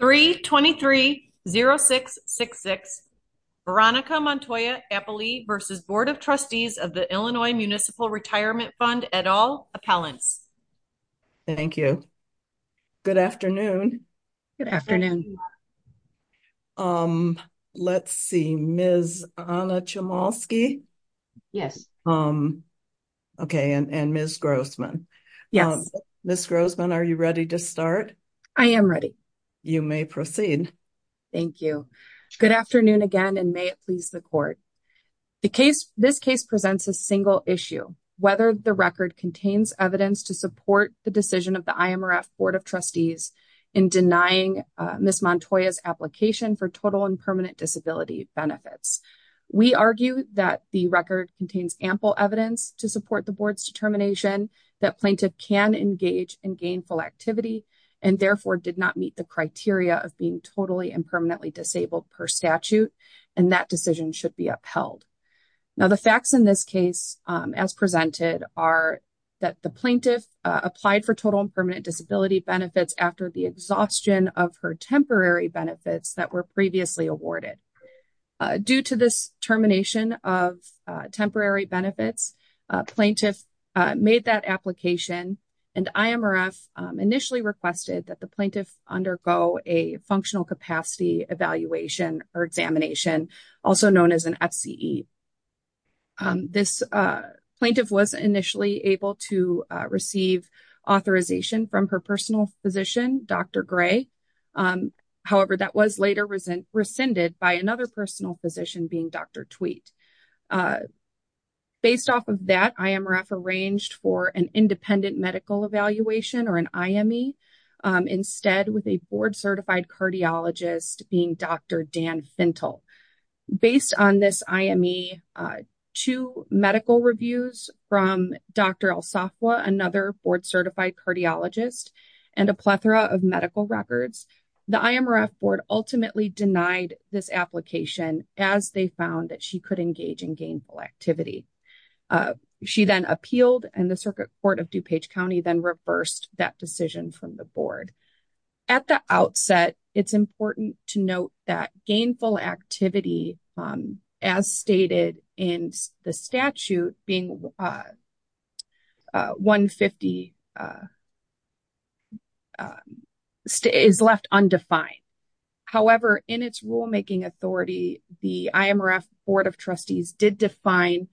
3-23-06-66 Veronica Montoya Appley v. Board of Trustees of the Illinois Municipal Retirement Fund et al. Appellants. Thank you. Good afternoon. Good afternoon. Um, let's see, Ms. Anna Chemolsky. Yes. Um, okay. And Ms. Grossman. Yes. Ms. Grossman, are you ready to start? I am ready. You may proceed. Thank you. Good afternoon again, and may it please the court. The case, this case presents a single issue, whether the record contains evidence to support the decision of the IMRF Board of Trustees in denying Ms. Montoya's application for total and permanent disability benefits. We argue that the record contains ample evidence to support the Board's determination that plaintiff can engage in gainful activity and therefore did not meet the criteria of being totally and permanently disabled per statute, and that decision should be upheld. Now, the facts in this case, as presented, are that the plaintiff applied for total and permanent disability benefits after the exhaustion of her temporary benefits that were previously awarded. Due to this termination of temporary benefits, plaintiff made that application, and IMRF initially requested that the plaintiff undergo a functional capacity evaluation or examination, also known as an FCE. This plaintiff was initially able to receive authorization from her personal physician, Dr. Gray. However, that was later rescinded by another personal physician being Dr. Tweet. Based off of that, IMRF arranged for an independent medical evaluation or an IME, instead with a board-certified cardiologist being Dr. Dan Fintel. Based on this IME, two medical reviews from Dr. El Safwa, another board-certified cardiologist, and a plethora of medical records, the IMRF Board ultimately denied this application as they found that she could engage in gainful activity. She then appealed, and the Circuit Court of DuPage County then reversed that decision from the Board. At the outset, it's important to note that gainful activity, as stated in the statute, being 150, is left undefined. However, in its rulemaking authority, the IMRF Board of Trustees did define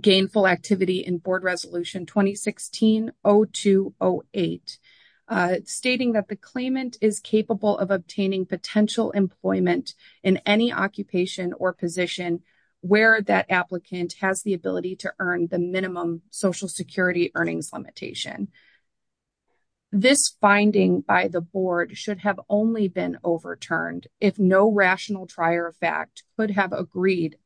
gainful activity in Board Resolution 2016-02-08, stating that the claimant is capable of obtaining potential employment in any occupation or position where that applicant has the ability to earn the minimum Social Security earnings limitation. This finding by the Board should have only been overturned if no rational trier of fact could have agreed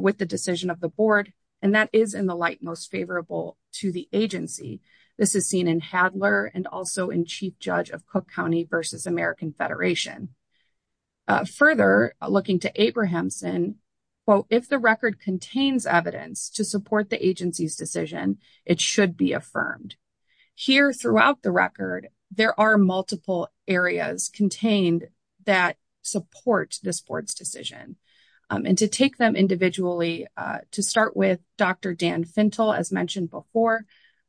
with the decision of the Board, and that is in the light most favorable to the agency. This is seen in Hadler and also in Chief Judge of Cook County v. American Federation. Further, looking to Abrahamson, quote, if the record contains evidence to support the agency's decision, it should be affirmed. Here throughout the record, there are multiple areas contained that support this Board's decision. And to take them individually, to start with, Dr. Dan Fintel, as mentioned before,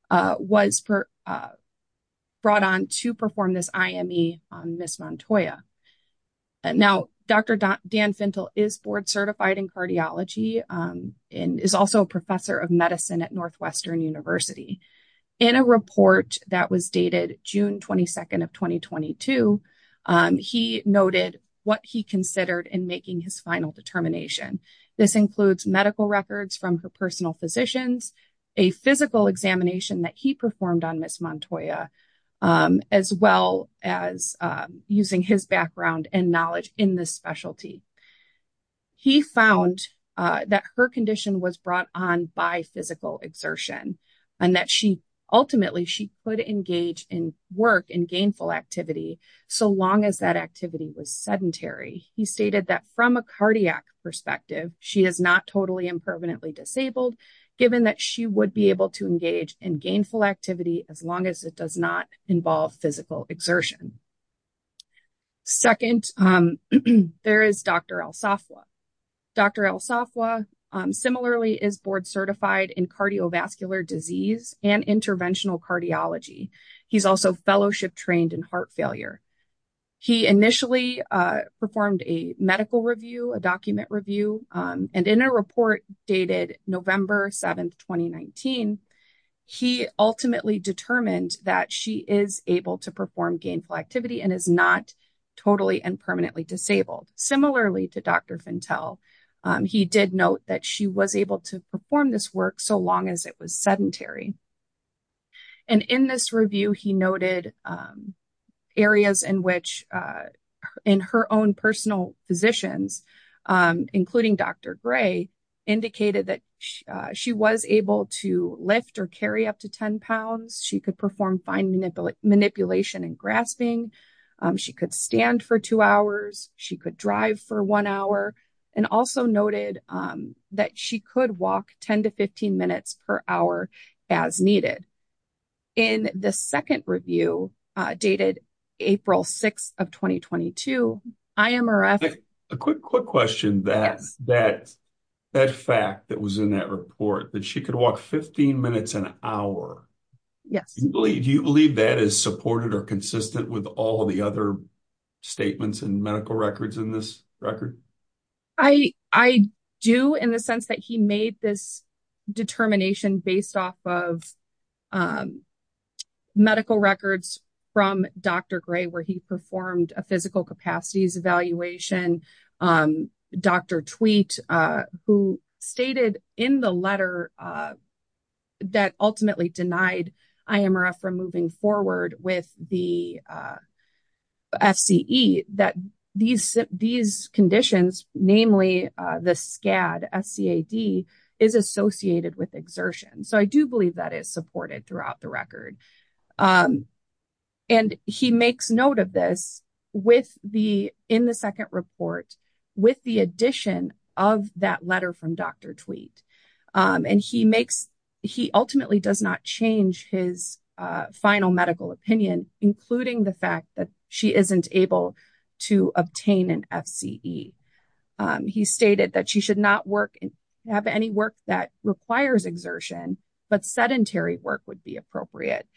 was brought on to perform this IME on Ms. Montoya. Now, Dr. Dan Fintel is board-certified in cardiology and is also a professor of medicine at Northwestern University. In a report that was dated June 22nd of 2022, he noted what he considered in making his final determination. This includes medical records from her personal physicians, a physical examination that he performed on Ms. Montoya, as well as using his background and knowledge in this specialty. He found that her condition was brought on by physical exertion and that ultimately she could engage in work and gainful activity so long as that activity was sedentary. He stated that from a cardiac perspective, she is not totally and permanently disabled, given that she would be able to engage in gainful activity as long as it does not involve physical exertion. Second, there is Dr. Alsafwa. Dr. Alsafwa similarly is board-certified in cardiovascular disease and interventional cardiology. He's also fellowship-trained in heart failure. He initially performed a medical review, a document review, and in a report dated November 7th, 2019, he ultimately determined that she is able to perform gainful activity and is not totally and permanently disabled. Similarly to Dr. Fintel, he did note that she was able to perform this work so long as it was sedentary. And in this review, he noted areas in which in her own personal positions, including Dr. Gray, indicated that she was able to lift or carry up to 10 pounds. She could perform fine manipulation and grasping. She could stand for two hours. She could drive for one hour. And also noted that she could walk 10 to 15 minutes per hour as needed. In the second review, dated April 6th of 2022, IMRF... A quick question. That fact that was in that report, that she could walk 15 minutes an hour. Do you believe that is supported or consistent with all the other statements and medical records in this record? I do in the sense that he made this determination based off of medical records from Dr. Gray where he performed a physical capacities evaluation. Dr. Tweet, who stated in the letter that ultimately denied IMRF from moving forward with the FCE, that these conditions, namely the SCAD, S-C-A-D, is associated with exertion. So I do believe that is supported throughout the record. And he makes note of this in the second report with the addition of that letter from Dr. Tweet. And he ultimately does not change his final medical opinion, including the fact that she isn't able to obtain an FCE. He stated that she should not have any work that requires exertion, but sedentary work would be appropriate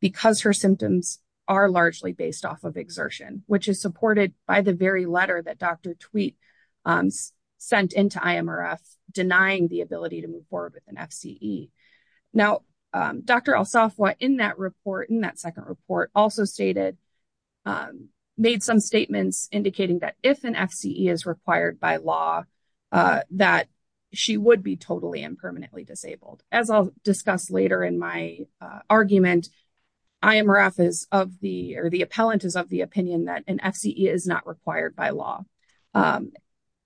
because her symptoms are largely based off of exertion, which is supported by the very letter that Dr. Tweet sent into IMRF denying the ability to move forward with an FCE. Now, Dr. Alsafwa in that report, in that second report, also stated, made some statements indicating that if an FCE is required by law, that she would be totally and permanently disabled. As I'll discuss later in my argument, IMRF is of the, or the appellant is of the opinion that an FCE is not required by law.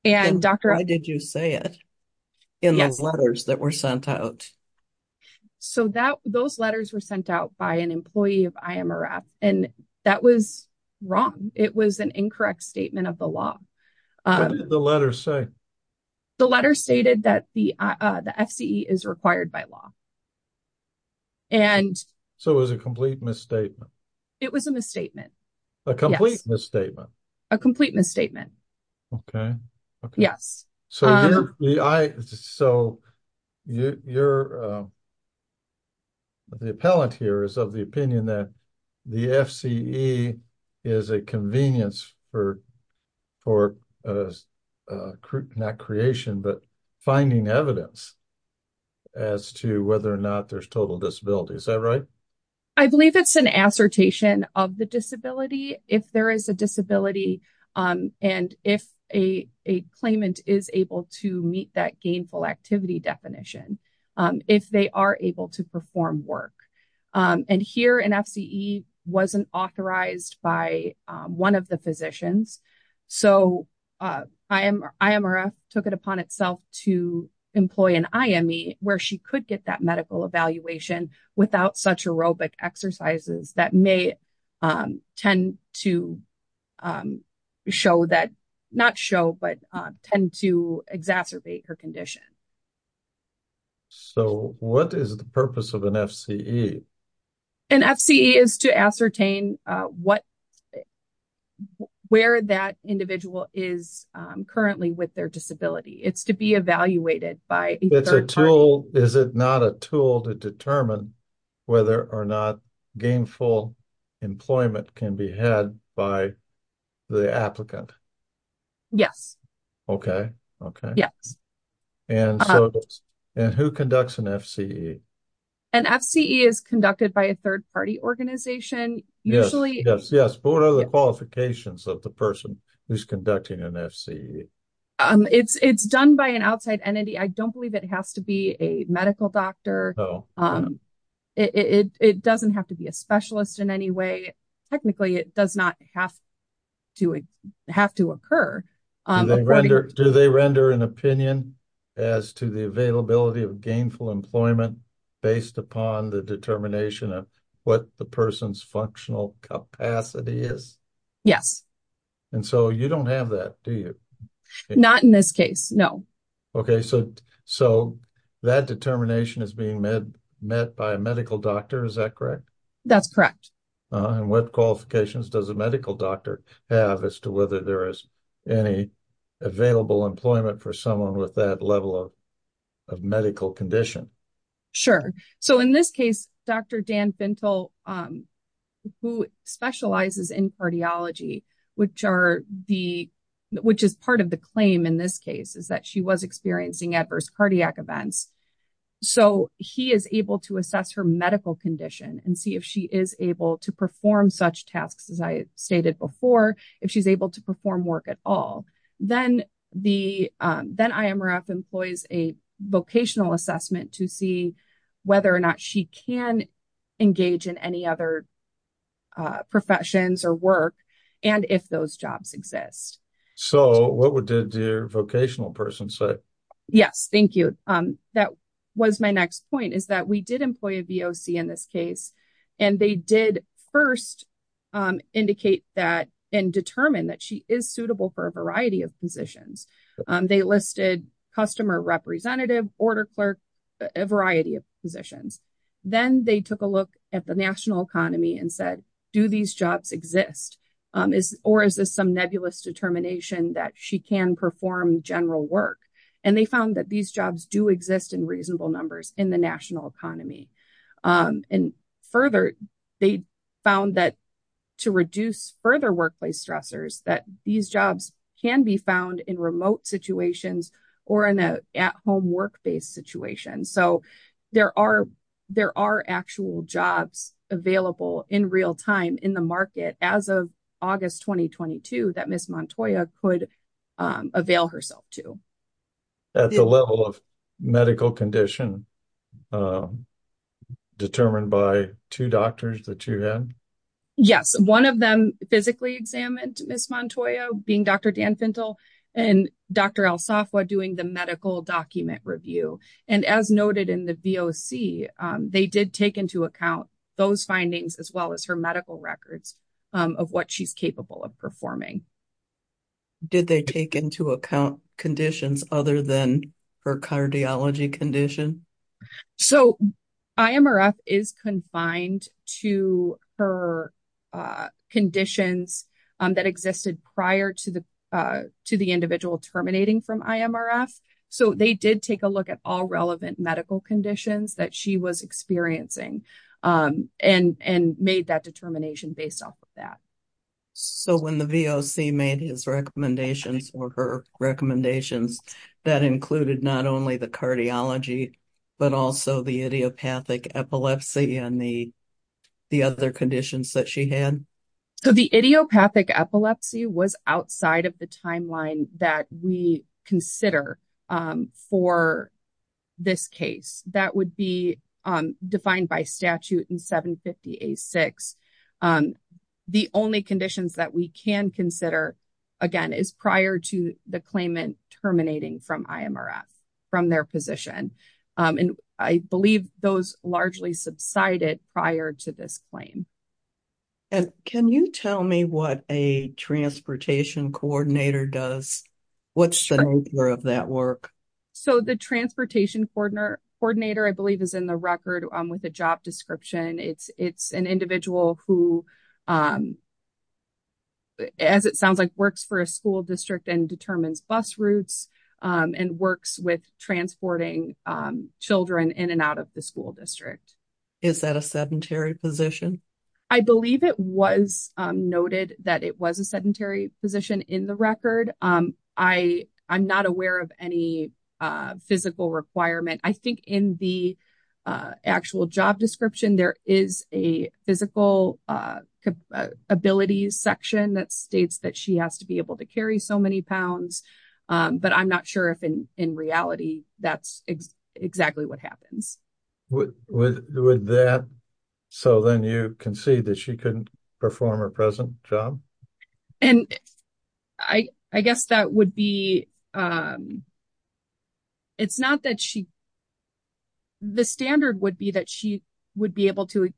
And Dr. Why did you say it in those letters that were sent out? So that, those letters were sent out by an employee of IMRF, and that was wrong. It was an incorrect statement of the law. What did the letter say? The letter stated that the FCE is required by law. So it was a complete misstatement. It was a misstatement. A complete misstatement. A complete misstatement. Yes. So, you're, the appellant here is of the opinion that the FCE is a convenience for, for, not creation, but finding evidence as to whether or not there's total disability. Is that right? I believe it's an assertion of the disability. If there is a disability, and if a, a claimant is able to meet that gainful activity definition, if they are able to perform work, and here an FCE wasn't authorized by one of the physicians. So, IMRF took it upon itself to employ an IME where she could get that medical evaluation without such aerobic exercises that may tend to show that, not show, but tend to exacerbate her condition. So, what is the purpose of an FCE? An FCE is to ascertain what, where that individual is currently with their disability. It's to be evaluated by. It's a tool, is it not a tool to determine whether or not gainful employment can be had by the applicant? Yes. Okay, okay. Yes. And so, and who conducts an FCE? An FCE is conducted by a third party organization. Yes, yes. But what are the qualifications of the person who's conducting an FCE? It's, it's done by an outside entity. I don't believe it has to be a medical doctor. No. It doesn't have to be a specialist in any way. Technically, it does not have to, have to occur. Do they render an opinion as to the availability of gainful employment based upon the determination of what the person's functional capacity is? Yes. And so, you don't have that, do you? Not in this case, no. Okay, so that determination is being met by a medical doctor, is that correct? That's correct. And what qualifications does a medical doctor have as to whether there is any available employment for someone with that level of medical condition? Sure. So, in this case, Dr. Dan Fintel, who specializes in cardiology, which are the, which is part of the claim in this case, is that she was experiencing adverse cardiac events. So, he is able to assess her medical condition and see if she is able to perform such tasks as I stated before, if she's able to perform work at all. Then the, then IMRF employs a vocational assessment to see whether or not she can engage in any other professions or work, and if those jobs exist. So, what would the vocational person say? Yes, thank you. That was my next point, is that we did employ a voc in this case, and they did first indicate that and determine that she is suitable for a variety of positions. They listed customer representative, order clerk, a variety of positions. Then they took a look at the national economy and said, do these jobs exist? Or is this some nebulous determination that she can perform general work? And they found that these jobs do exist in reasonable numbers in the national economy. And further, they found that to reduce further workplace stressors, that these jobs can be found in remote situations or in an at-home work-based situation. So, there are actual jobs available in real time in the market as of August 2022 that Ms. Montoya could avail herself to. At the level of medical condition determined by two doctors that you had? Yes, one of them physically examined Ms. Montoya, being Dr. Dan Fentel and Dr. El Safwa doing the medical document review. And as noted in the VOC, they did take into account those findings as well as her medical records of what she's capable of performing. Did they take into account conditions other than her cardiology condition? So, IMRF is confined to her conditions that existed prior to the individual terminating from IMRF. So, they did take a look at all relevant medical conditions that she was experiencing and made that determination based off of that. So, when the VOC made his recommendations or her recommendations, that included not only the cardiology, but also the idiopathic epilepsy and the other conditions that she had? So, the idiopathic epilepsy was outside of the timeline that we consider for this case. That would be defined by statute in 750A6. The only conditions that we can consider, again, is prior to the claimant terminating from IMRF, from their position. And I believe those largely subsided prior to this claim. And can you tell me what a transportation coordinator does? What's the nature of that work? So, the transportation coordinator, I believe, is in the record with a job description. It's an individual who, as it sounds like, works for a school district and determines bus routes and works with transporting children in and out of the school district. Is that a sedentary position? I believe it was noted that it was a sedentary position in the record. I'm not aware of any physical requirement. I think in the actual job description, there is a physical abilities section that states that she has to be able to carry so many pounds. But I'm not sure if, in reality, that's exactly what happens. With that, so then you concede that she couldn't perform her present job? And I guess that would be, it's not that she, the standard would be that she would be able to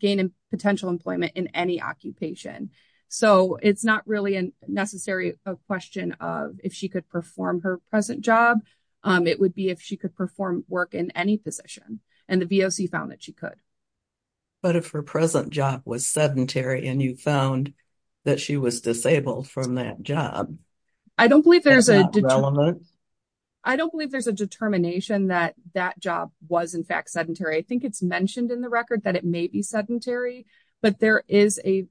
gain potential employment in any occupation. So, it's not really a necessary question of if she could perform her present job. It would be if she could perform work in any position. And the VOC found that she could. But if her present job was sedentary and you found that she was disabled from that job, is that relevant? I don't believe there's a determination that that job was, in fact, sedentary. I think it's mentioned in the record that it may be sedentary. But there is a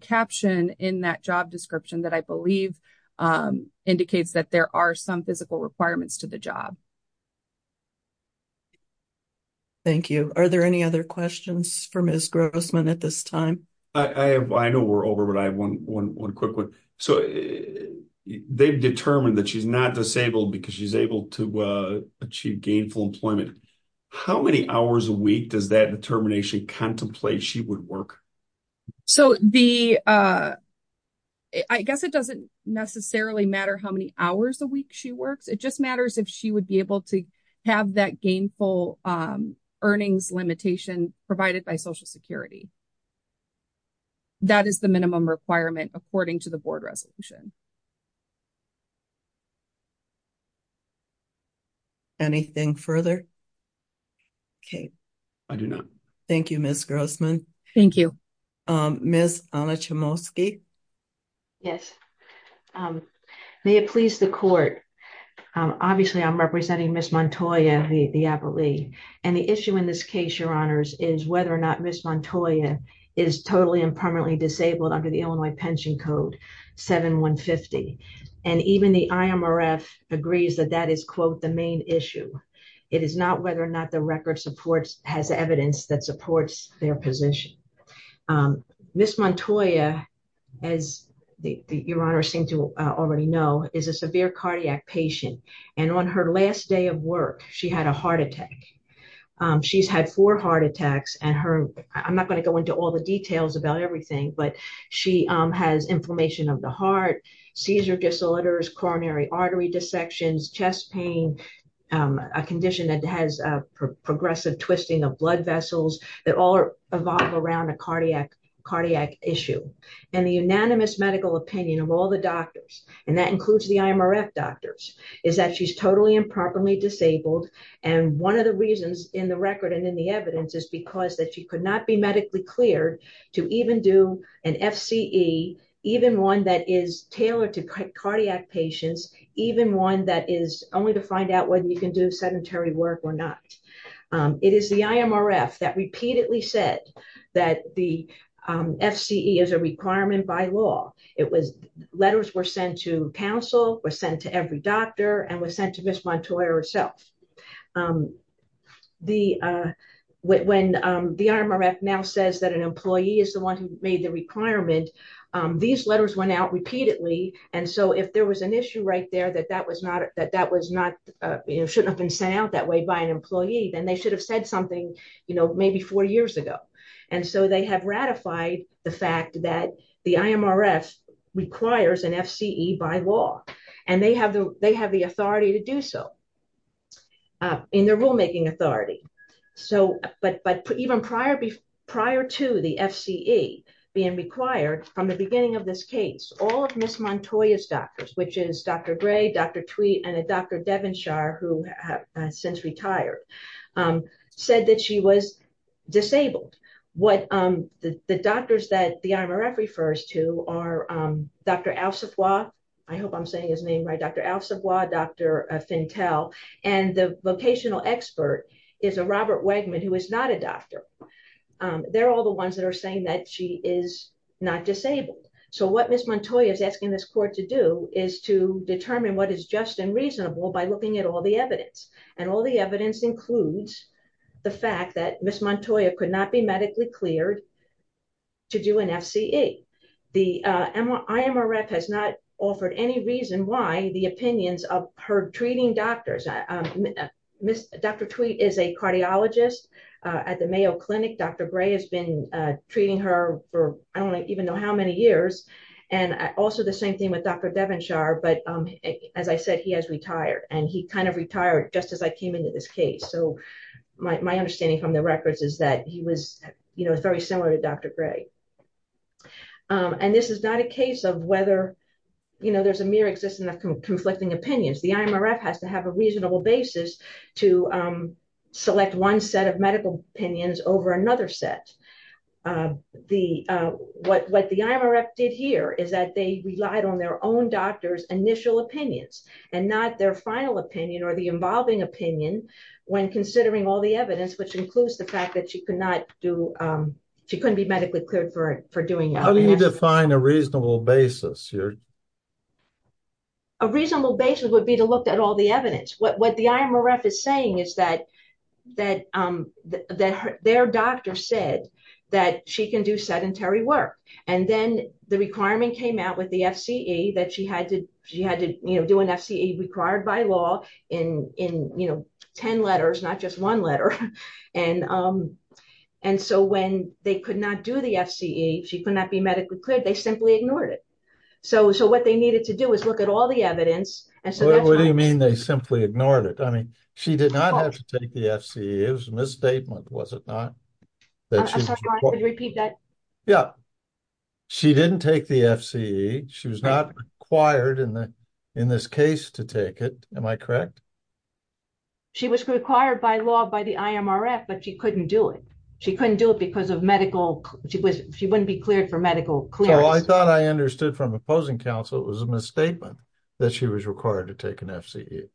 caption in that job description that I believe indicates that there are some physical requirements to the job. Thank you. Are there any other questions for Ms. Grossman at this time? I know we're over, but I have one quick one. So, they've determined that she's not disabled because she's able to achieve gainful employment. How many hours a week does that determination contemplate she would work? So, the, I guess it doesn't necessarily matter how many hours a week she works. It just matters if she would be able to have that gainful earnings limitation provided by Social Security. That is the minimum requirement according to the board resolution. Anything further? Okay. I do not. Thank you, Ms. Grossman. Thank you. Ms. Onachemowski? Yes. May it please the court. Obviously, I'm representing Ms. Montoya, the appellee. And the issue in this case, Your Honors, is whether or not Ms. Montoya is totally and permanently disabled under the Illinois Pension Code 7150. And even the IMRF agrees that that is, quote, the main issue. It is not whether or not the record has evidence that supports their position. Ms. Montoya, as Your Honors seem to already know, is a severe cardiac patient. And on her last day of work, she had a heart attack. She's had four heart attacks. And her, I'm not going to go into all the details about everything, but she has inflammation of the heart, seizure disorders, coronary artery dissections, chest pain, a condition that has progressive twisting of blood vessels that all revolve around a cardiac issue. And the unanimous medical opinion of all the doctors, and that includes the IMRF doctors, is that she's totally and permanently disabled. And one of the reasons in the record and in the evidence is because that she could not be medically cleared to even do an FCE, even one that is tailored to cardiac patients, even one that is only to find out whether you can do sedentary work or not. It is the IMRF that repeatedly said that the FCE is a requirement by law. Letters were sent to counsel, were sent to every doctor, and were sent to Ms. Montoya herself. When the IMRF now says that an employee is the one who made the requirement, these letters went out repeatedly. And so if there was an issue right there that that was not, shouldn't have been sent out that way by an employee, then they should have said something, you know, maybe four years ago. And so they have ratified the fact that the IMRF requires an FCE by law, and they have the authority to do so in their rulemaking authority. But even prior to the FCE being required, from the beginning of this case, all of Ms. Montoya's doctors, which is Dr. Gray, Dr. Tweet, and Dr. Devonshire, who has since retired, said that she was disabled. What the doctors that the IMRF refers to are Dr. Al-Safwa, I hope I'm saying his name right, Dr. Al-Safwa, Dr. Fintel, and the vocational expert is a Robert Wegman, who is not a doctor. They're all the ones that are saying that she is not disabled. So what Ms. Montoya is asking this court to do is to determine what is just and reasonable by looking at all the evidence, and all the evidence includes the fact that Ms. Montoya could not be medically cleared to do an FCE. The IMRF has not offered any reason why the opinions of her treating doctors, Dr. Tweet is a cardiologist at the Mayo Clinic, Dr. Gray has been treating her for I don't even know how many years, and also the same thing with Dr. Devonshire, but as I said, he has retired, and he kind of retired just as I came into this case. So my understanding from the records is that he was, you know, very similar to Dr. Gray. And this is not a case of whether, you know, there's a mere existence of conflicting opinions, the IMRF has to have a reasonable basis to select one set of medical opinions over another set. What the IMRF did here is that they relied on their own doctor's initial opinions, and not their final opinion or the involving opinion when considering all the evidence, which includes the fact that she could not do, she couldn't be medically cleared for doing it. How do you define a reasonable basis here? A reasonable basis would be to look at all the evidence. What the IMRF is saying is that their doctor said that she can do sedentary work, and then the requirement came out with the FCE that she had to, you know, do an FCE required by law in, you know, 10 letters, not just one letter. And so when they could not do the FCE, she could not be medically cleared, they simply ignored it. So what they needed to do is look at all the evidence. What do you mean they simply ignored it? I mean, she did not have to take the FCE, it was a misstatement, was it not? I'm sorry, can you repeat that? Yeah, she didn't take the FCE, she was not required in this case to take it, am I correct? She was required by law by the IMRF, but she couldn't do it. She couldn't do it because of medical, she wouldn't be cleared for medical clearance. So I thought I understood from opposing counsel it was a misstatement that she was required to take an FCE.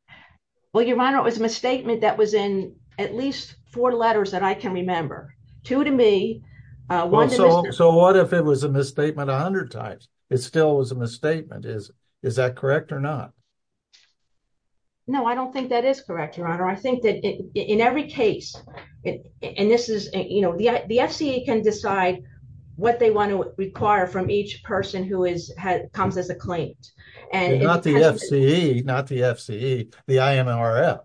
Well, Your Honor, it was a misstatement that was in at least four letters that I can remember. Two to me, one to Mr. So what if it was a misstatement 100 times? It still was a misstatement, is that correct or not? No, I don't think that is correct, Your Honor. I think that in every case, and this is, you know, the FCE can decide what they want to require from each person who comes as a claimant. Not the FCE, not the FCE, the IMRF.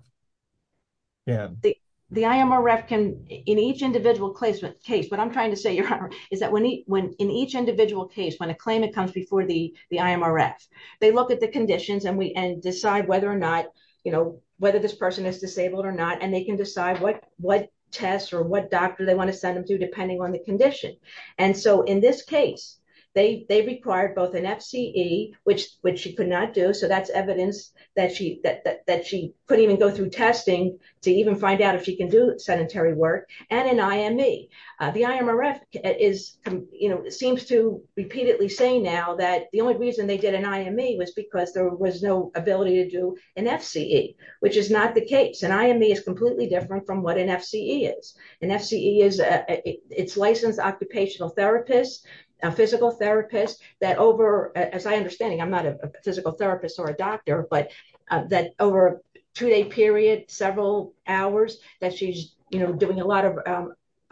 The IMRF can, in each individual case, what I'm trying to say, Your Honor, is that in each individual case, when a claimant comes before the IMRF, they look at the conditions and decide whether or not, you know, whether this person is disabled or not, and they can decide what tests or what doctor they want to send them to depending on the condition. And so in this case, they required both an FCE, which she could not do, so that's evidence that she could even go through testing to even find out if she can do sedentary work, and an IME. The IMRF is, you know, seems to repeatedly say now that the only reason they did an IME was because there was no ability to do an FCE, which is not the case. An IME is completely different from what an FCE is. An FCE is, it's licensed occupational therapist, a physical therapist, that over, as I understand it, I'm not a physical therapist or a doctor, but that over a two-day period, several hours, that she's, you know, doing a lot of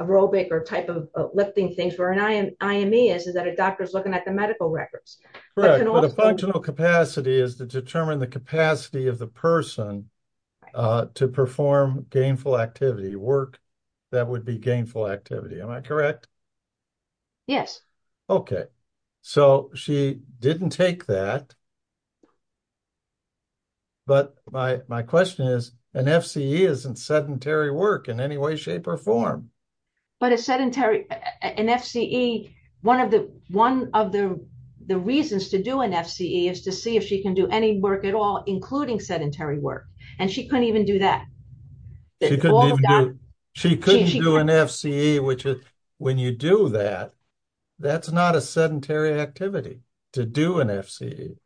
aerobic or type of lifting things, where an IME is, is that a doctor's looking at the medical records. Correct, but a functional capacity is to determine the capacity of the person to perform gainful activity, work that would be gainful activity, am I correct? Yes. Okay, so she didn't take that. But my question is, an FCE isn't sedentary work in any way, shape, or form. But a sedentary, an FCE, one of the reasons to do an FCE is to see if she can do any work at all, including sedentary work, and she couldn't even do that. She couldn't do an FCE, which is, when you do that, that's not a sedentary activity, to do an FCE.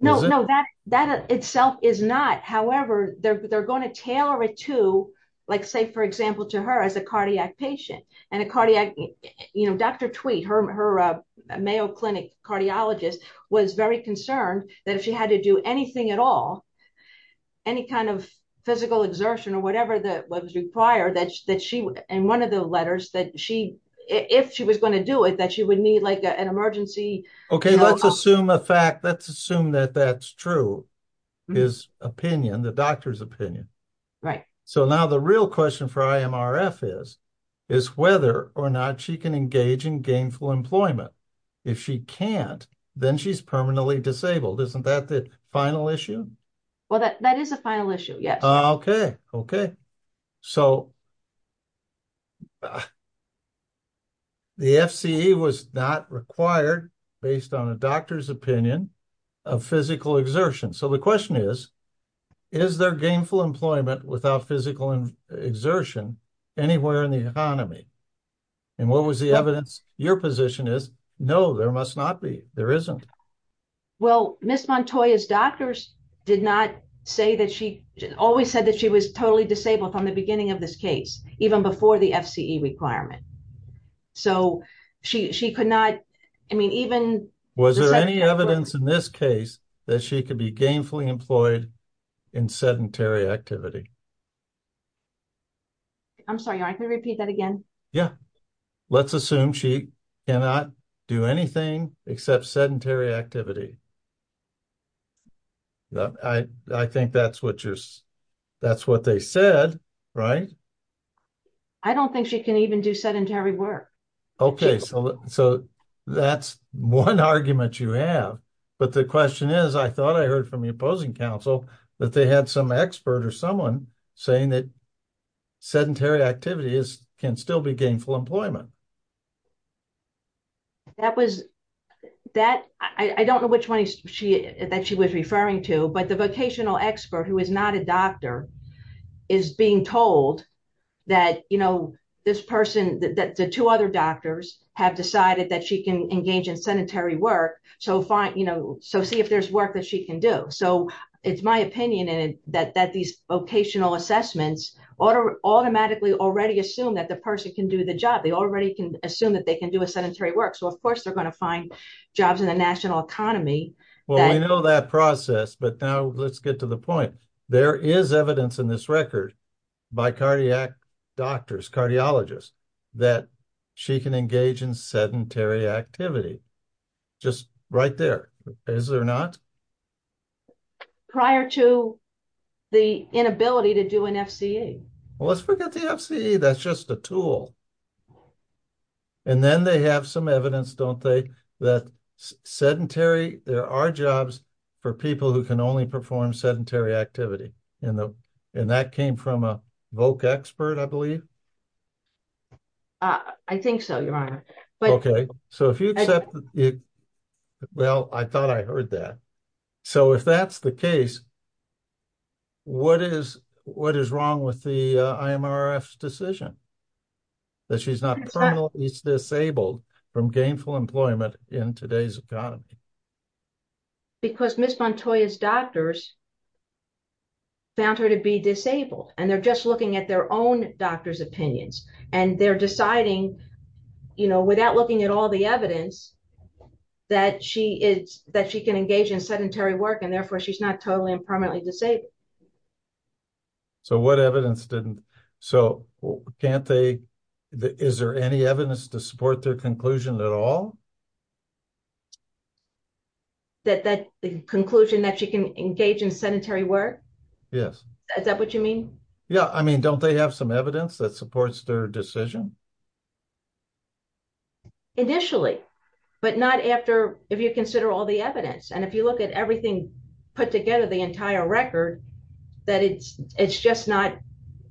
No, no, that itself is not. However, they're going to tailor it to, like, say, for example, to her as a cardiac patient. And a cardiac, you know, Dr. Tweet, her Mayo Clinic cardiologist, was very concerned that if she had to do anything at all, any kind of physical exertion or whatever that was required, that she, in one of the letters, that she, if she was going to do it, that she would need, like, an emergency help. Okay, let's assume a fact, let's assume that that's true, his opinion, the doctor's opinion. Right. So now the real question for IMRF is, is whether or not she can engage in gainful employment. If she can't, then she's permanently disabled. Isn't that the final issue? Well, that is a final issue, yes. Okay, okay. So, the FCE was not required, based on a doctor's opinion, of physical exertion. So the question is, is there gainful employment without physical exertion anywhere in the economy? And what was the evidence? Your position is, no, there must not be, there isn't. Well, Ms. Montoya's doctors did not say that she, always said that she was totally disabled from the beginning of this case, even before the FCE requirement. So, she could not, I mean, even... Was there any evidence in this case that she could be gainfully employed in sedentary activity? I'm sorry, I can repeat that again. Yeah. Let's assume she cannot do anything except sedentary activity. I think that's what they said, right? I don't think she can even do sedentary work. Okay, so that's one argument you have. But the question is, I thought I heard from the opposing counsel that they had some expert or someone saying that sedentary activities can still be gainful employment. That was, that, I don't know which one she, that she was referring to, but the vocational expert who is not a doctor is being told that, you know, this person, that the two other doctors have decided that she can engage in sedentary work. So, see if there's work that she can do. So, it's my opinion that these vocational assessments automatically already assume that the person can do the job. They already can assume that they can do a sedentary work. So, of course, they're going to find jobs in the national economy. Well, we know that process, but now let's get to the point. There is evidence in this record by cardiac doctors, cardiologists, that she can engage in sedentary activity. Just right there, is there not? Prior to the inability to do an FCE. Well, let's forget the FCE, that's just a tool. And then they have some evidence, don't they, that sedentary, there are jobs for people who can only perform sedentary activity. And that came from a voc expert, I believe? I think so, Your Honor. Okay, so if you accept it, well, I thought I heard that. So, if that's the case, what is wrong with the IMRF's decision? That she's not permanently disabled from gainful employment in today's economy? Because Ms. Montoya's doctors found her to be disabled, and they're just looking at their own doctor's opinions. And they're deciding, you know, without looking at all the evidence, that she can engage in sedentary work, and therefore she's not totally and permanently disabled. So what evidence didn't, so can't they, is there any evidence to support their conclusion at all? That conclusion that she can engage in sedentary work? Yes. Is that what you mean? Yeah, I mean, don't they have some evidence that supports their decision? Initially, but not after, if you consider all the evidence. And if you look at everything put together, the entire record, that it's just not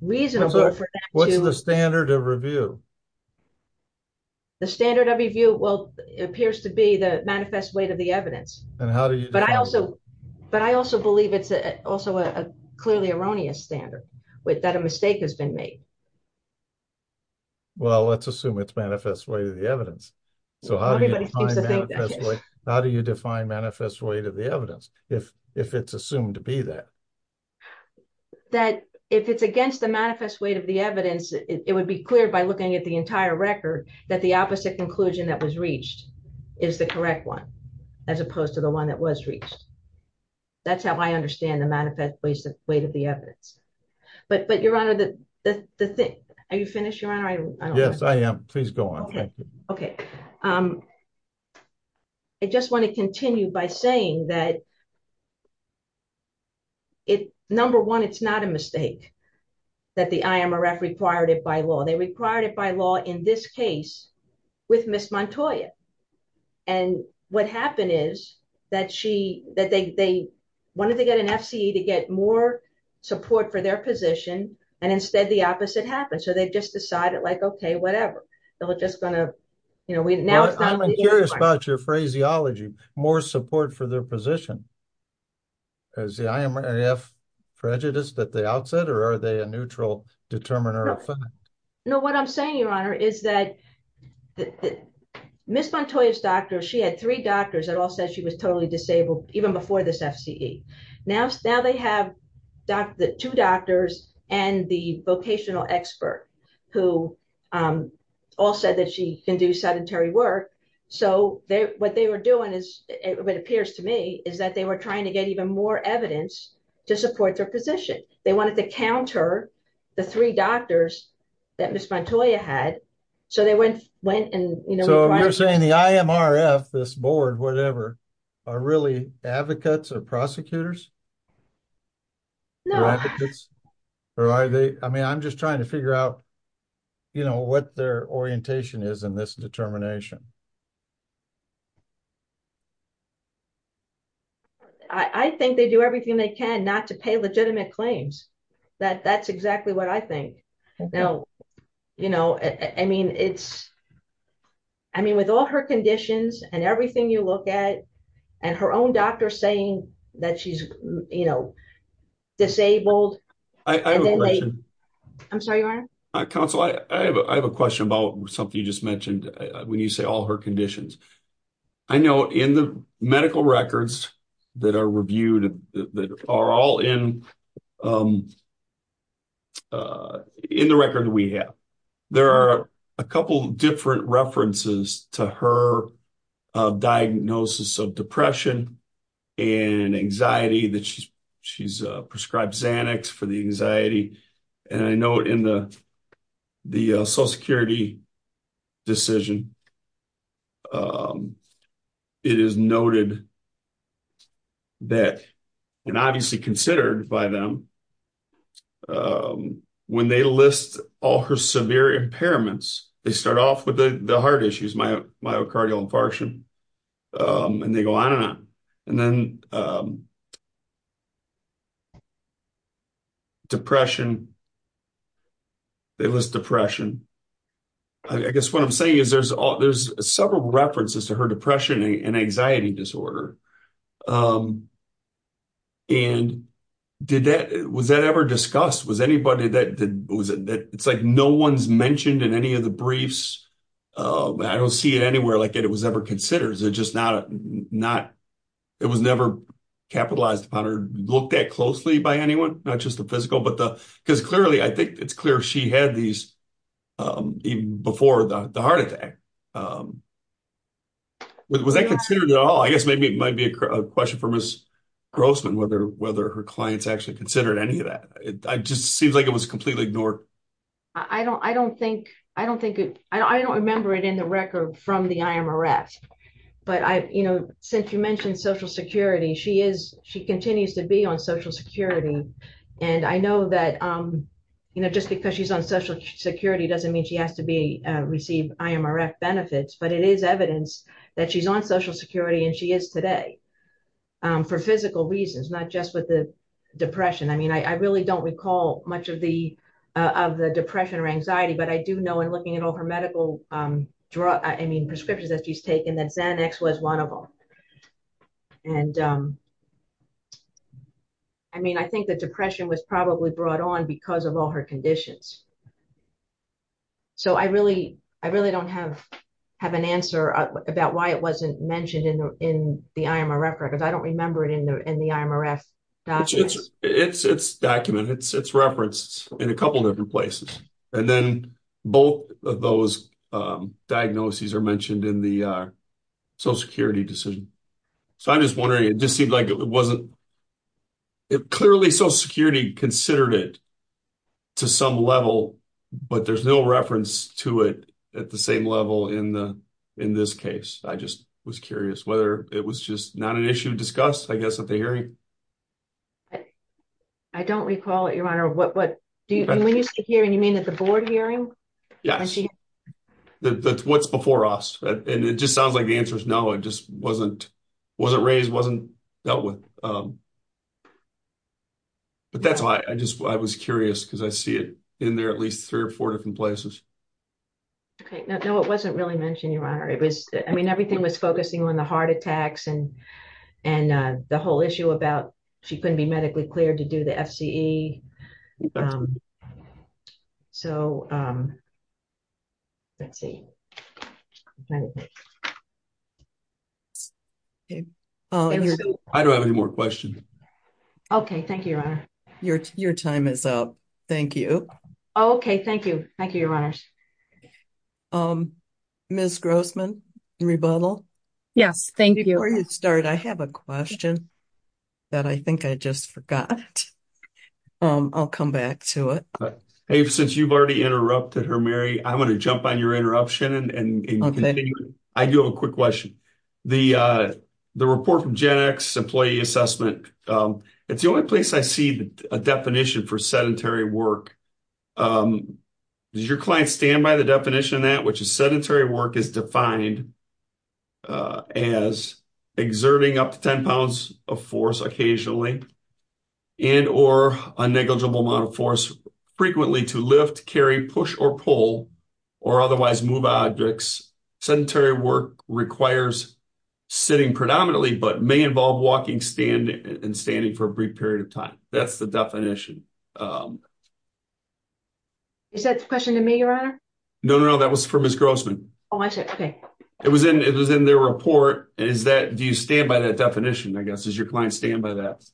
reasonable. What's the standard of review? The standard of review, well, appears to be the manifest weight of the evidence. But I also believe it's also a clearly erroneous standard, that a mistake has been made. Well, let's assume it's manifest weight of the evidence. So how do you define manifest weight of the evidence, if it's assumed to be that? That if it's against the manifest weight of the evidence, it would be clear by looking at the entire record, that the opposite conclusion that was reached is the correct one, as opposed to the one that was reached. That's how I understand the manifest weight of the evidence. But Your Honor, are you finished, Your Honor? Yes, I am. Please go on. Okay. I just want to continue by saying that, number one, it's not a mistake that the IMRF required it by law. They required it by law in this case with Ms. Montoya. And what happened is that they wanted to get an FCE to get more support for their position, and instead the opposite happened. So they just decided, like, okay, whatever. I'm curious about your phraseology, more support for their position. Is the IMRF prejudiced at the outset, or are they a neutral determiner? No, what I'm saying, Your Honor, is that Ms. Montoya's doctor, she had three doctors that all said she was totally disabled, even before this FCE. Now they have two doctors and the vocational expert who all said that she can do sedentary work. So what they were doing, it appears to me, is that they were trying to get even more evidence to support their position. They wanted to counter the three doctors that Ms. Montoya had. So you're saying the IMRF, this board, whatever, are really advocates or prosecutors? No. I mean, I'm just trying to figure out, you know, what their orientation is in this determination. I think they do everything they can not to pay legitimate claims. That's exactly what I think. You know, I mean, it's, I mean, with all her conditions and everything you look at, and her own doctor saying that she's, you know, disabled. I have a question. I'm sorry, Your Honor. Counsel, I have a question about something you just mentioned when you say all her conditions. I know in the medical records that are reviewed, that are all in the record we have, there are a couple different references to her diagnosis of depression and anxiety that she's prescribed Xanax for the anxiety. And I know in the Social Security decision, it is noted that, and obviously considered by them, when they list all her severe impairments, they start off with the heart issues, my myocardial infarction, and they go on and on. And then depression, they list depression. I guess what I'm saying is there's several references to her depression and anxiety disorder. And did that, was that ever discussed? Was anybody that, it's like no one's mentioned in any of the briefs. I don't see it anywhere like it was ever considered. Or is it just not, it was never capitalized upon or looked at closely by anyone? Not just the physical, but the, because clearly, I think it's clear she had these before the heart attack. Was that considered at all? I guess maybe it might be a question for Ms. Grossman whether her clients actually considered any of that. It just seems like it was completely ignored. I don't think, I don't think, I don't remember it in the record from the IMRF. But I, you know, since you mentioned Social Security, she is, she continues to be on Social Security. And I know that, you know, just because she's on Social Security doesn't mean she has to be, receive IMRF benefits, but it is evidence that she's on Social Security and she is today. For physical reasons, not just with the depression. I mean, I really don't recall much of the, of the depression or anxiety, but I do know in looking at all her medical, I mean, prescriptions that she's taken that Xanax was one of them. And, I mean, I think the depression was probably brought on because of all her conditions. So I really, I really don't have, have an answer about why it wasn't mentioned in the, in the IMRF records. I don't remember it in the, in the IMRF documents. It's documented, it's referenced in a couple of different places. And then both of those diagnoses are mentioned in the Social Security decision. So I'm just wondering, it just seemed like it wasn't, it clearly Social Security considered it to some level, but there's no reference to it at the same level in the, in this case. I just was curious whether it was just not an issue discussed, I guess at the hearing. I don't recall it, Your Honor. What, what do you, when you say hearing, you mean at the board hearing? Yes, that's what's before us. And it just sounds like the answer is no, it just wasn't, wasn't raised, wasn't dealt with. But that's why I just, I was curious because I see it in there at least three or four different places. Okay, no, it wasn't really mentioned, Your Honor. It was, I mean, everything was focusing on the heart attacks and, and the whole issue about she couldn't be medically cleared to do the FCE. So, let's see. I don't have any more questions. Okay, thank you, Your Honor. Your, your time is up. Thank you. Okay, thank you. Thank you, Your Honor. Ms. Grossman, rebuttal. Yes, thank you. Before you start, I have a question that I think I just forgot. I'll come back to it. Since you've already interrupted her, Mary, I'm going to jump on your interruption and continue. I do have a quick question. The report from Gen X employee assessment, it's the only place I see a definition for sedentary work. Does your client stand by the definition of that, which is sedentary work is defined as exerting up to 10 pounds of force occasionally and or a negligible amount of force frequently to lift, carry, push, or pull, or otherwise move objects. Sedentary work requires sitting predominantly, but may involve walking, standing, and standing for a brief period of time. That's the definition. Is that a question to me, Your Honor? No, no, no. That was for Ms. Grossman. Oh, I see. Okay. It was in their report. Do you stand by that definition, I guess? Does your client stand by that?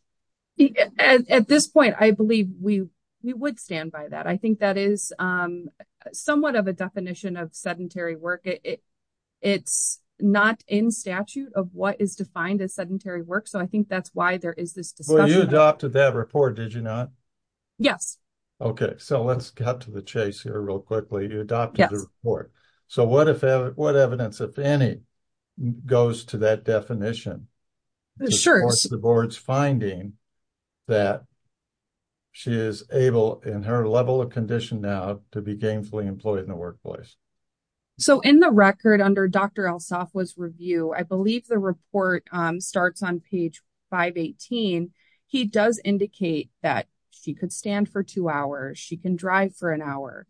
At this point, I believe we would stand by that. I think that is somewhat of a definition of sedentary work. It's not in statute of what is defined as sedentary work, so I think that's why there is this discussion. You adopted that report, did you not? Yes. Okay. So let's cut to the chase here real quickly. You adopted the report. Yes. So what evidence, if any, goes to that definition? Of course, the board's finding that she is able, in her level of condition now, to be gainfully employed in the workplace. So in the record under Dr. Alsopha's review, I believe the report starts on page 518. He does indicate that she could stand for two hours. She can drive for an hour.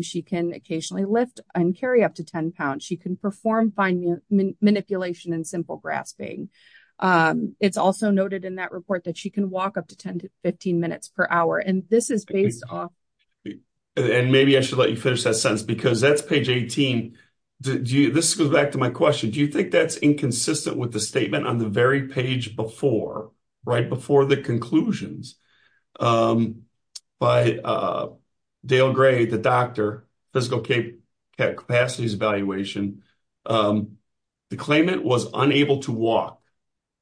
She can occasionally lift and carry up to 10 pounds. She can perform fine manipulation and simple grasping. It's also noted in that report that she can walk up to 10 to 15 minutes per hour. And this is based on… And maybe I should let you finish that sentence because that's page 18. This goes back to my question. Do you think that's inconsistent with the statement on the very page before, right before the conclusions, by Dale Gray, the doctor, Physical Capacity Evaluation, the claimant was unable to walk.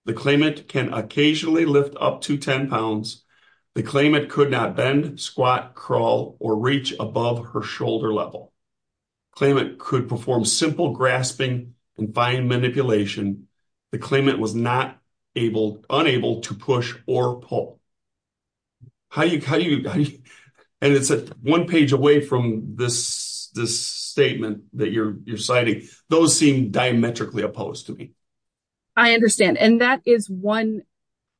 The claimant can occasionally lift up to 10 pounds. The claimant could not bend, squat, crawl, or reach above her shoulder level. The claimant could perform simple grasping and fine manipulation. The claimant was unable to push or pull. And it's one page away from this statement that you're citing. Those seem diametrically opposed to me. I understand. And that is one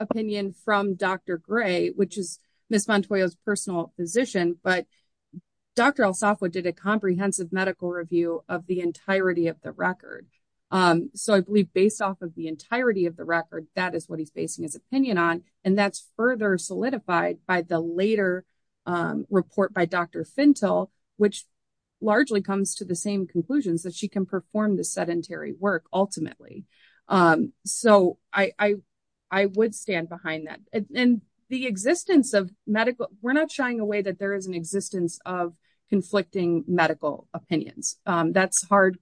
opinion from Dr. Gray, which is Ms. Montoya's personal physician. But Dr. El Safwa did a comprehensive medical review of the entirety of the record. So I believe based off of the entirety of the record, that is what he's basing his opinion on. And that's further solidified by the later report by Dr. Fintel, which largely comes to the same conclusions, that she can perform the sedentary work, ultimately. So I would stand behind that. And the existence of medical, we're not shying away that there is an existence of conflicting medical opinions. That's hard.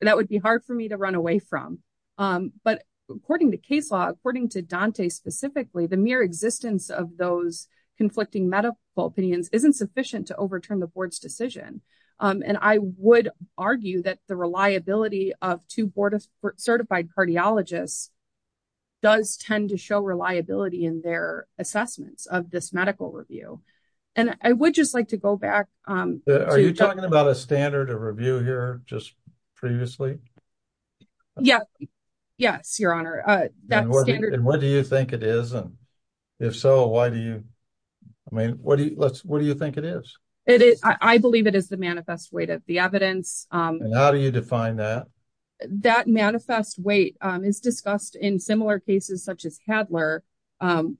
That would be hard for me to run away from. But according to case law, according to Dante specifically, the mere existence of those conflicting medical opinions isn't sufficient to overturn the board's decision. And I would argue that the reliability of two board certified cardiologists does tend to show reliability in their assessments of this medical review. And I would just like to go back. Are you talking about a standard of review here just previously? Yes, Your Honor. And what do you think it is? And if so, why do you, I mean, what do you think it is? I believe it is the manifest weight of the evidence. And how do you define that? That manifest weight is discussed in similar cases such as Hadler,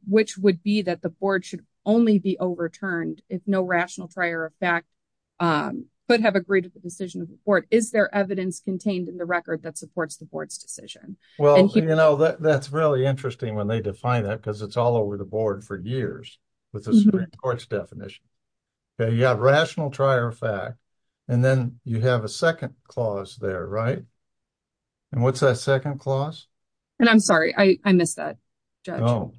which would be that the board should only be overturned if no rational trier of fact could have agreed to the decision of the court. Is there evidence contained in the record that supports the board's decision? Well, you know, that's really interesting when they define that because it's all over the board for years with the Supreme Court's definition. Yeah, rational trier of fact. And then you have a second clause there, right? And what's that second clause? And I'm sorry, I missed that, Judge.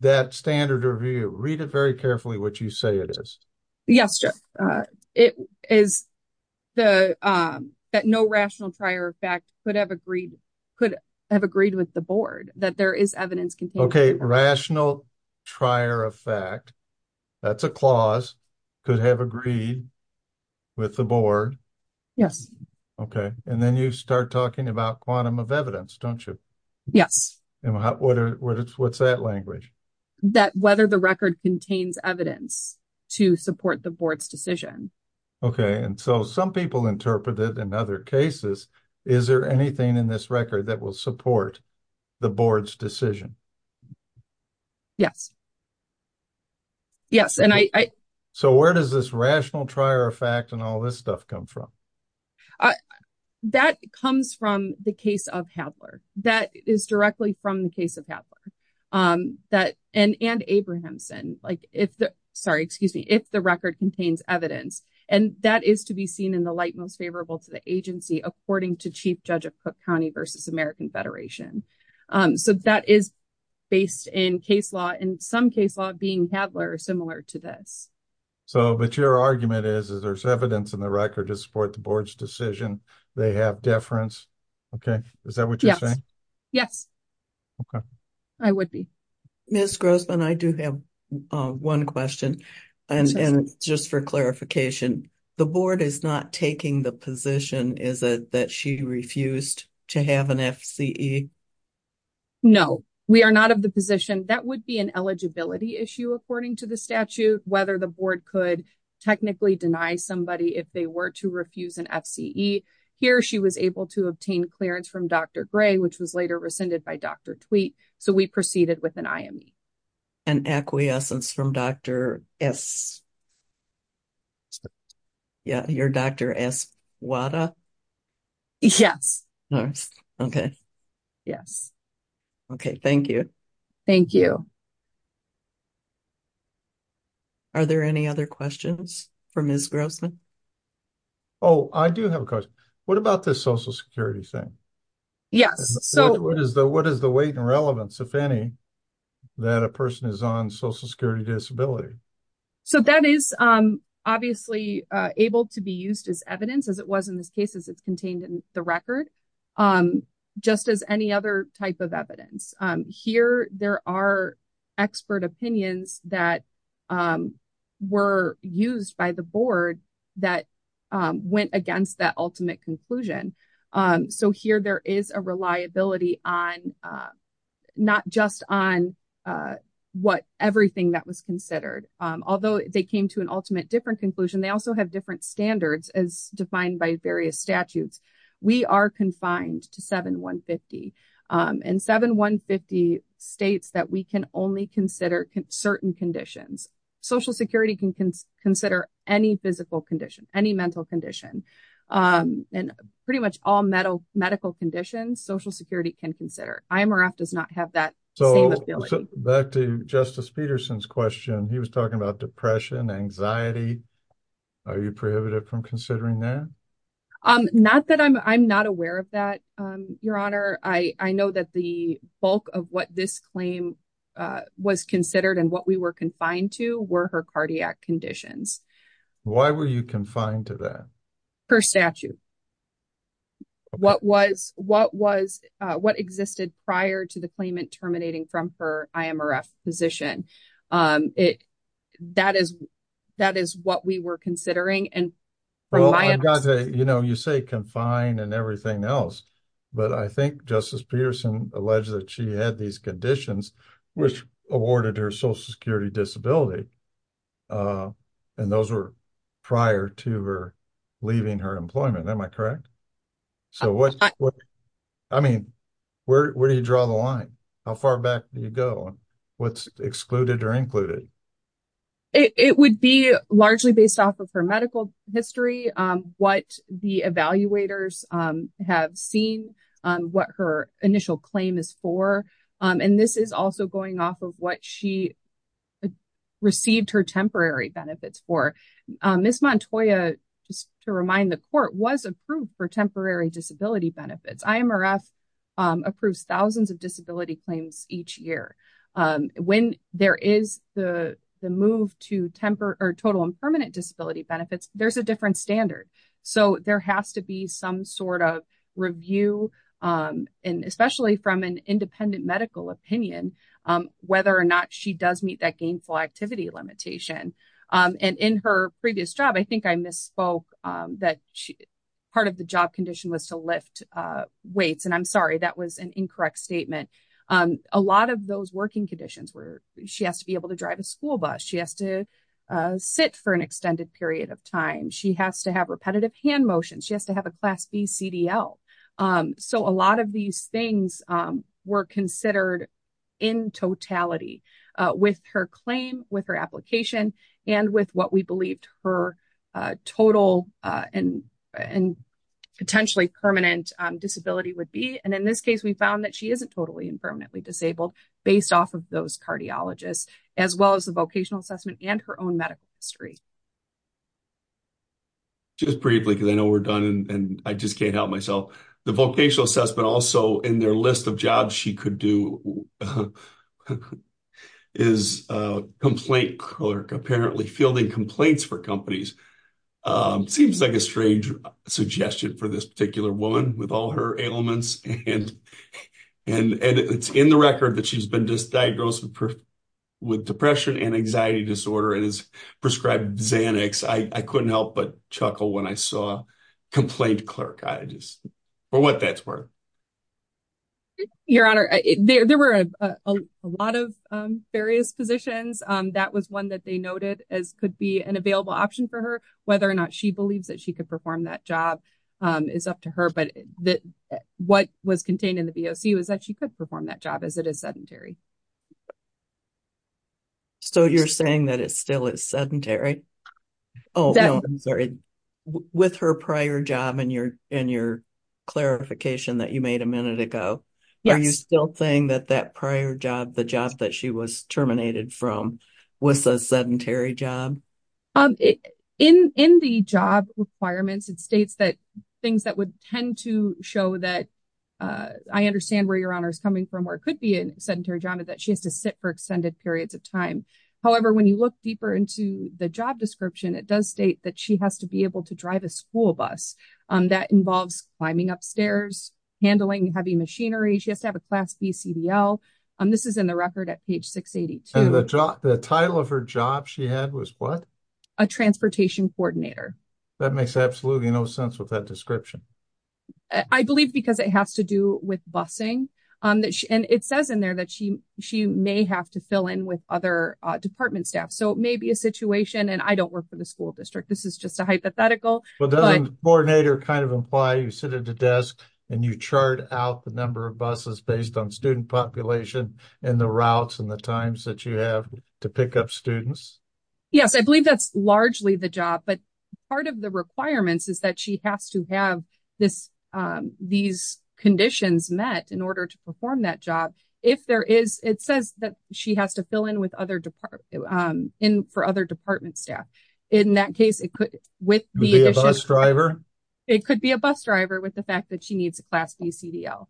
That standard review, read it very carefully what you say it is. Yes, Judge. It is that no rational trier of fact could have agreed with the board that there is evidence contained. Okay, rational trier of fact, that's a clause, could have agreed with the board. Yes. Okay. And then you start talking about quantum of evidence, don't you? Yes. And what's that language? That whether the record contains evidence to support the board's decision. Okay. And so some people interpret it in other cases. Is there anything in this record that will support the board's decision? Yes. Yes. So where does this rational trier of fact and all this stuff come from? That comes from the case of Hadler. That is directly from the case of Hadler. And Abrahamson. Sorry, excuse me. If the record contains evidence. And that is to be seen in the light most favorable to the agency, according to Chief Judge of Cook County versus American Federation. So that is based in case law and some case law being Hadler, similar to this. So, but your argument is, is there's evidence in the record to support the board's decision. They have deference. Okay. Is that what you're saying? Yes. Okay. I would be. Ms. Grossman, I do have one question. And just for clarification, the board is not taking the position, is it, that she refused to have an FCE? No, we are not of the position. That would be an eligibility issue, according to the statute, whether the board could technically deny somebody if they were to refuse an FCE. Here, she was able to obtain clearance from Dr. Gray, which was later rescinded by Dr. Tweet. So, we proceeded with an IME. An acquiescence from Dr. S. Yeah, your Dr. S. Wada. Yes. Okay. Yes. Okay. Thank you. Thank you. Are there any other questions for Ms. Grossman? Oh, I do have a question. What about this Social Security thing? Yes. What is the weight and relevance, if any, that a person is on Social Security disability? So, that is obviously able to be used as evidence, as it was in this case, as it's contained in the record, just as any other type of evidence. Here, there are expert opinions that were used by the board that went against that ultimate conclusion. So, here, there is a reliability on not just on what everything that was considered. Although they came to an ultimate different conclusion, they also have different standards as defined by various statutes. We are confined to 7150. And 7150 states that we can only consider certain conditions. Social Security can consider any physical condition, any mental condition, and pretty much all medical conditions, Social Security can consider. IMRF does not have that same ability. So, back to Justice Peterson's question. He was talking about depression, anxiety. Are you prohibited from considering that? Not that I'm not aware of that, Your Honor. I know that the bulk of what this claim was considered and what we were confined to were her cardiac conditions. Why were you confined to that? Her statute. What existed prior to the claimant terminating from her IMRF position. That is what we were considering. You say confined and everything else. But I think Justice Peterson alleged that she had these conditions which awarded her Social Security disability. And those were prior to her leaving her employment. Am I correct? I mean, where do you draw the line? How far back do you go? What is excluded or included? It would be largely based off of her medical history, what the evaluators have seen, what her initial claim is for. And this is also going off of what she received her temporary benefits for. Ms. Montoya, just to remind the Court, was approved for temporary disability benefits. IMRF approves thousands of disability claims each year. When there is the move to total and permanent disability benefits, there's a different standard. So there has to be some sort of review, especially from an independent medical opinion, whether or not she does meet that gainful activity limitation. And in her previous job, I think I misspoke that part of the job condition was to lift weights. And I'm sorry, that was an incorrect statement. A lot of those working conditions were she has to be able to drive a school bus. She has to sit for an extended period of time. She has to have repetitive hand motions. She has to have a Class B CDL. So a lot of these things were considered in totality with her claim, with her application, and with what we believed her total and potentially permanent disability would be. And in this case, we found that she isn't totally and permanently disabled based off of those cardiologists, as well as the vocational assessment and her own medical history. Just briefly, because I know we're done and I just can't help myself. The vocational assessment also in their list of jobs she could do is a complaint clerk, apparently fielding complaints for companies. Seems like a strange suggestion for this particular woman with all her ailments. And it's in the record that she's been diagnosed with depression and anxiety disorder and is prescribed Xanax. I couldn't help but chuckle when I saw complaint clerk. For what that's worth. Your Honor, there were a lot of various positions. That was one that they noted as could be an available option for her, whether or not she believes that she could perform that job is up to her. But what was contained in the VOC was that she could perform that job as it is sedentary. So you're saying that it still is sedentary? Oh, I'm sorry. With her prior job and your and your clarification that you made a minute ago. Are you still saying that that prior job, the job that she was terminated from was a sedentary job? In the job requirements, it states that things that would tend to show that I understand where your honor is coming from, or it could be a sedentary job that she has to sit for extended periods of time. However, when you look deeper into the job description, it does state that she has to be able to drive a school bus. That involves climbing upstairs, handling heavy machinery. She has to have a class BCDL. This is in the record at page 682. The title of her job she had was what? A transportation coordinator. That makes absolutely no sense with that description. I believe because it has to do with busing. And it says in there that she she may have to fill in with other department staff. So it may be a situation and I don't work for the school district. This is just a hypothetical coordinator. Kind of imply you sit at the desk and you chart out the number of buses based on student population and the routes and the times that you have to pick up students. Yes, I believe that's largely the job. But part of the requirements is that she has to have this these conditions met in order to perform that job. If there is, it says that she has to fill in with other department in for other department staff. In that case, it could with the bus driver. It could be a bus driver with the fact that she needs a class BCDL.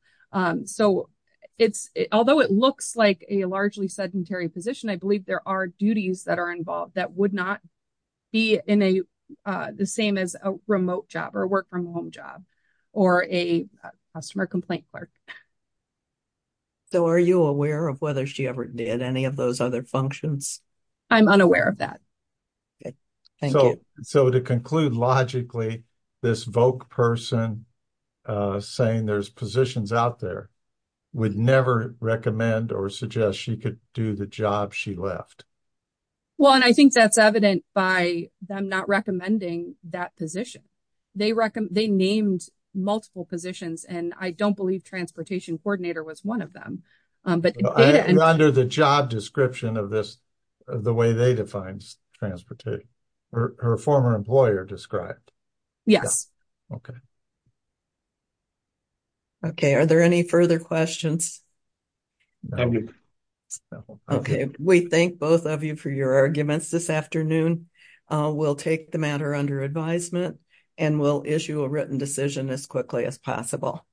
So it's although it looks like a largely sedentary position, I believe there are duties that are involved that would not be in a the same as a remote job or work from home job or a customer complaint clerk. So are you aware of whether she ever did any of those other functions? I'm unaware of that. So to conclude, logically, this voc person saying there's positions out there would never recommend or suggest she could do the job she left. Well, and I think that's evident by them not recommending that position. They recommend they named multiple positions, and I don't believe transportation coordinator was one of them. But under the job description of this, the way they define transportation, her former employer described. Yes. Okay. Okay. Are there any further questions. Okay, we thank both of you for your arguments this afternoon. We'll take the matter under advisement, and we'll issue a written decision as quickly as possible.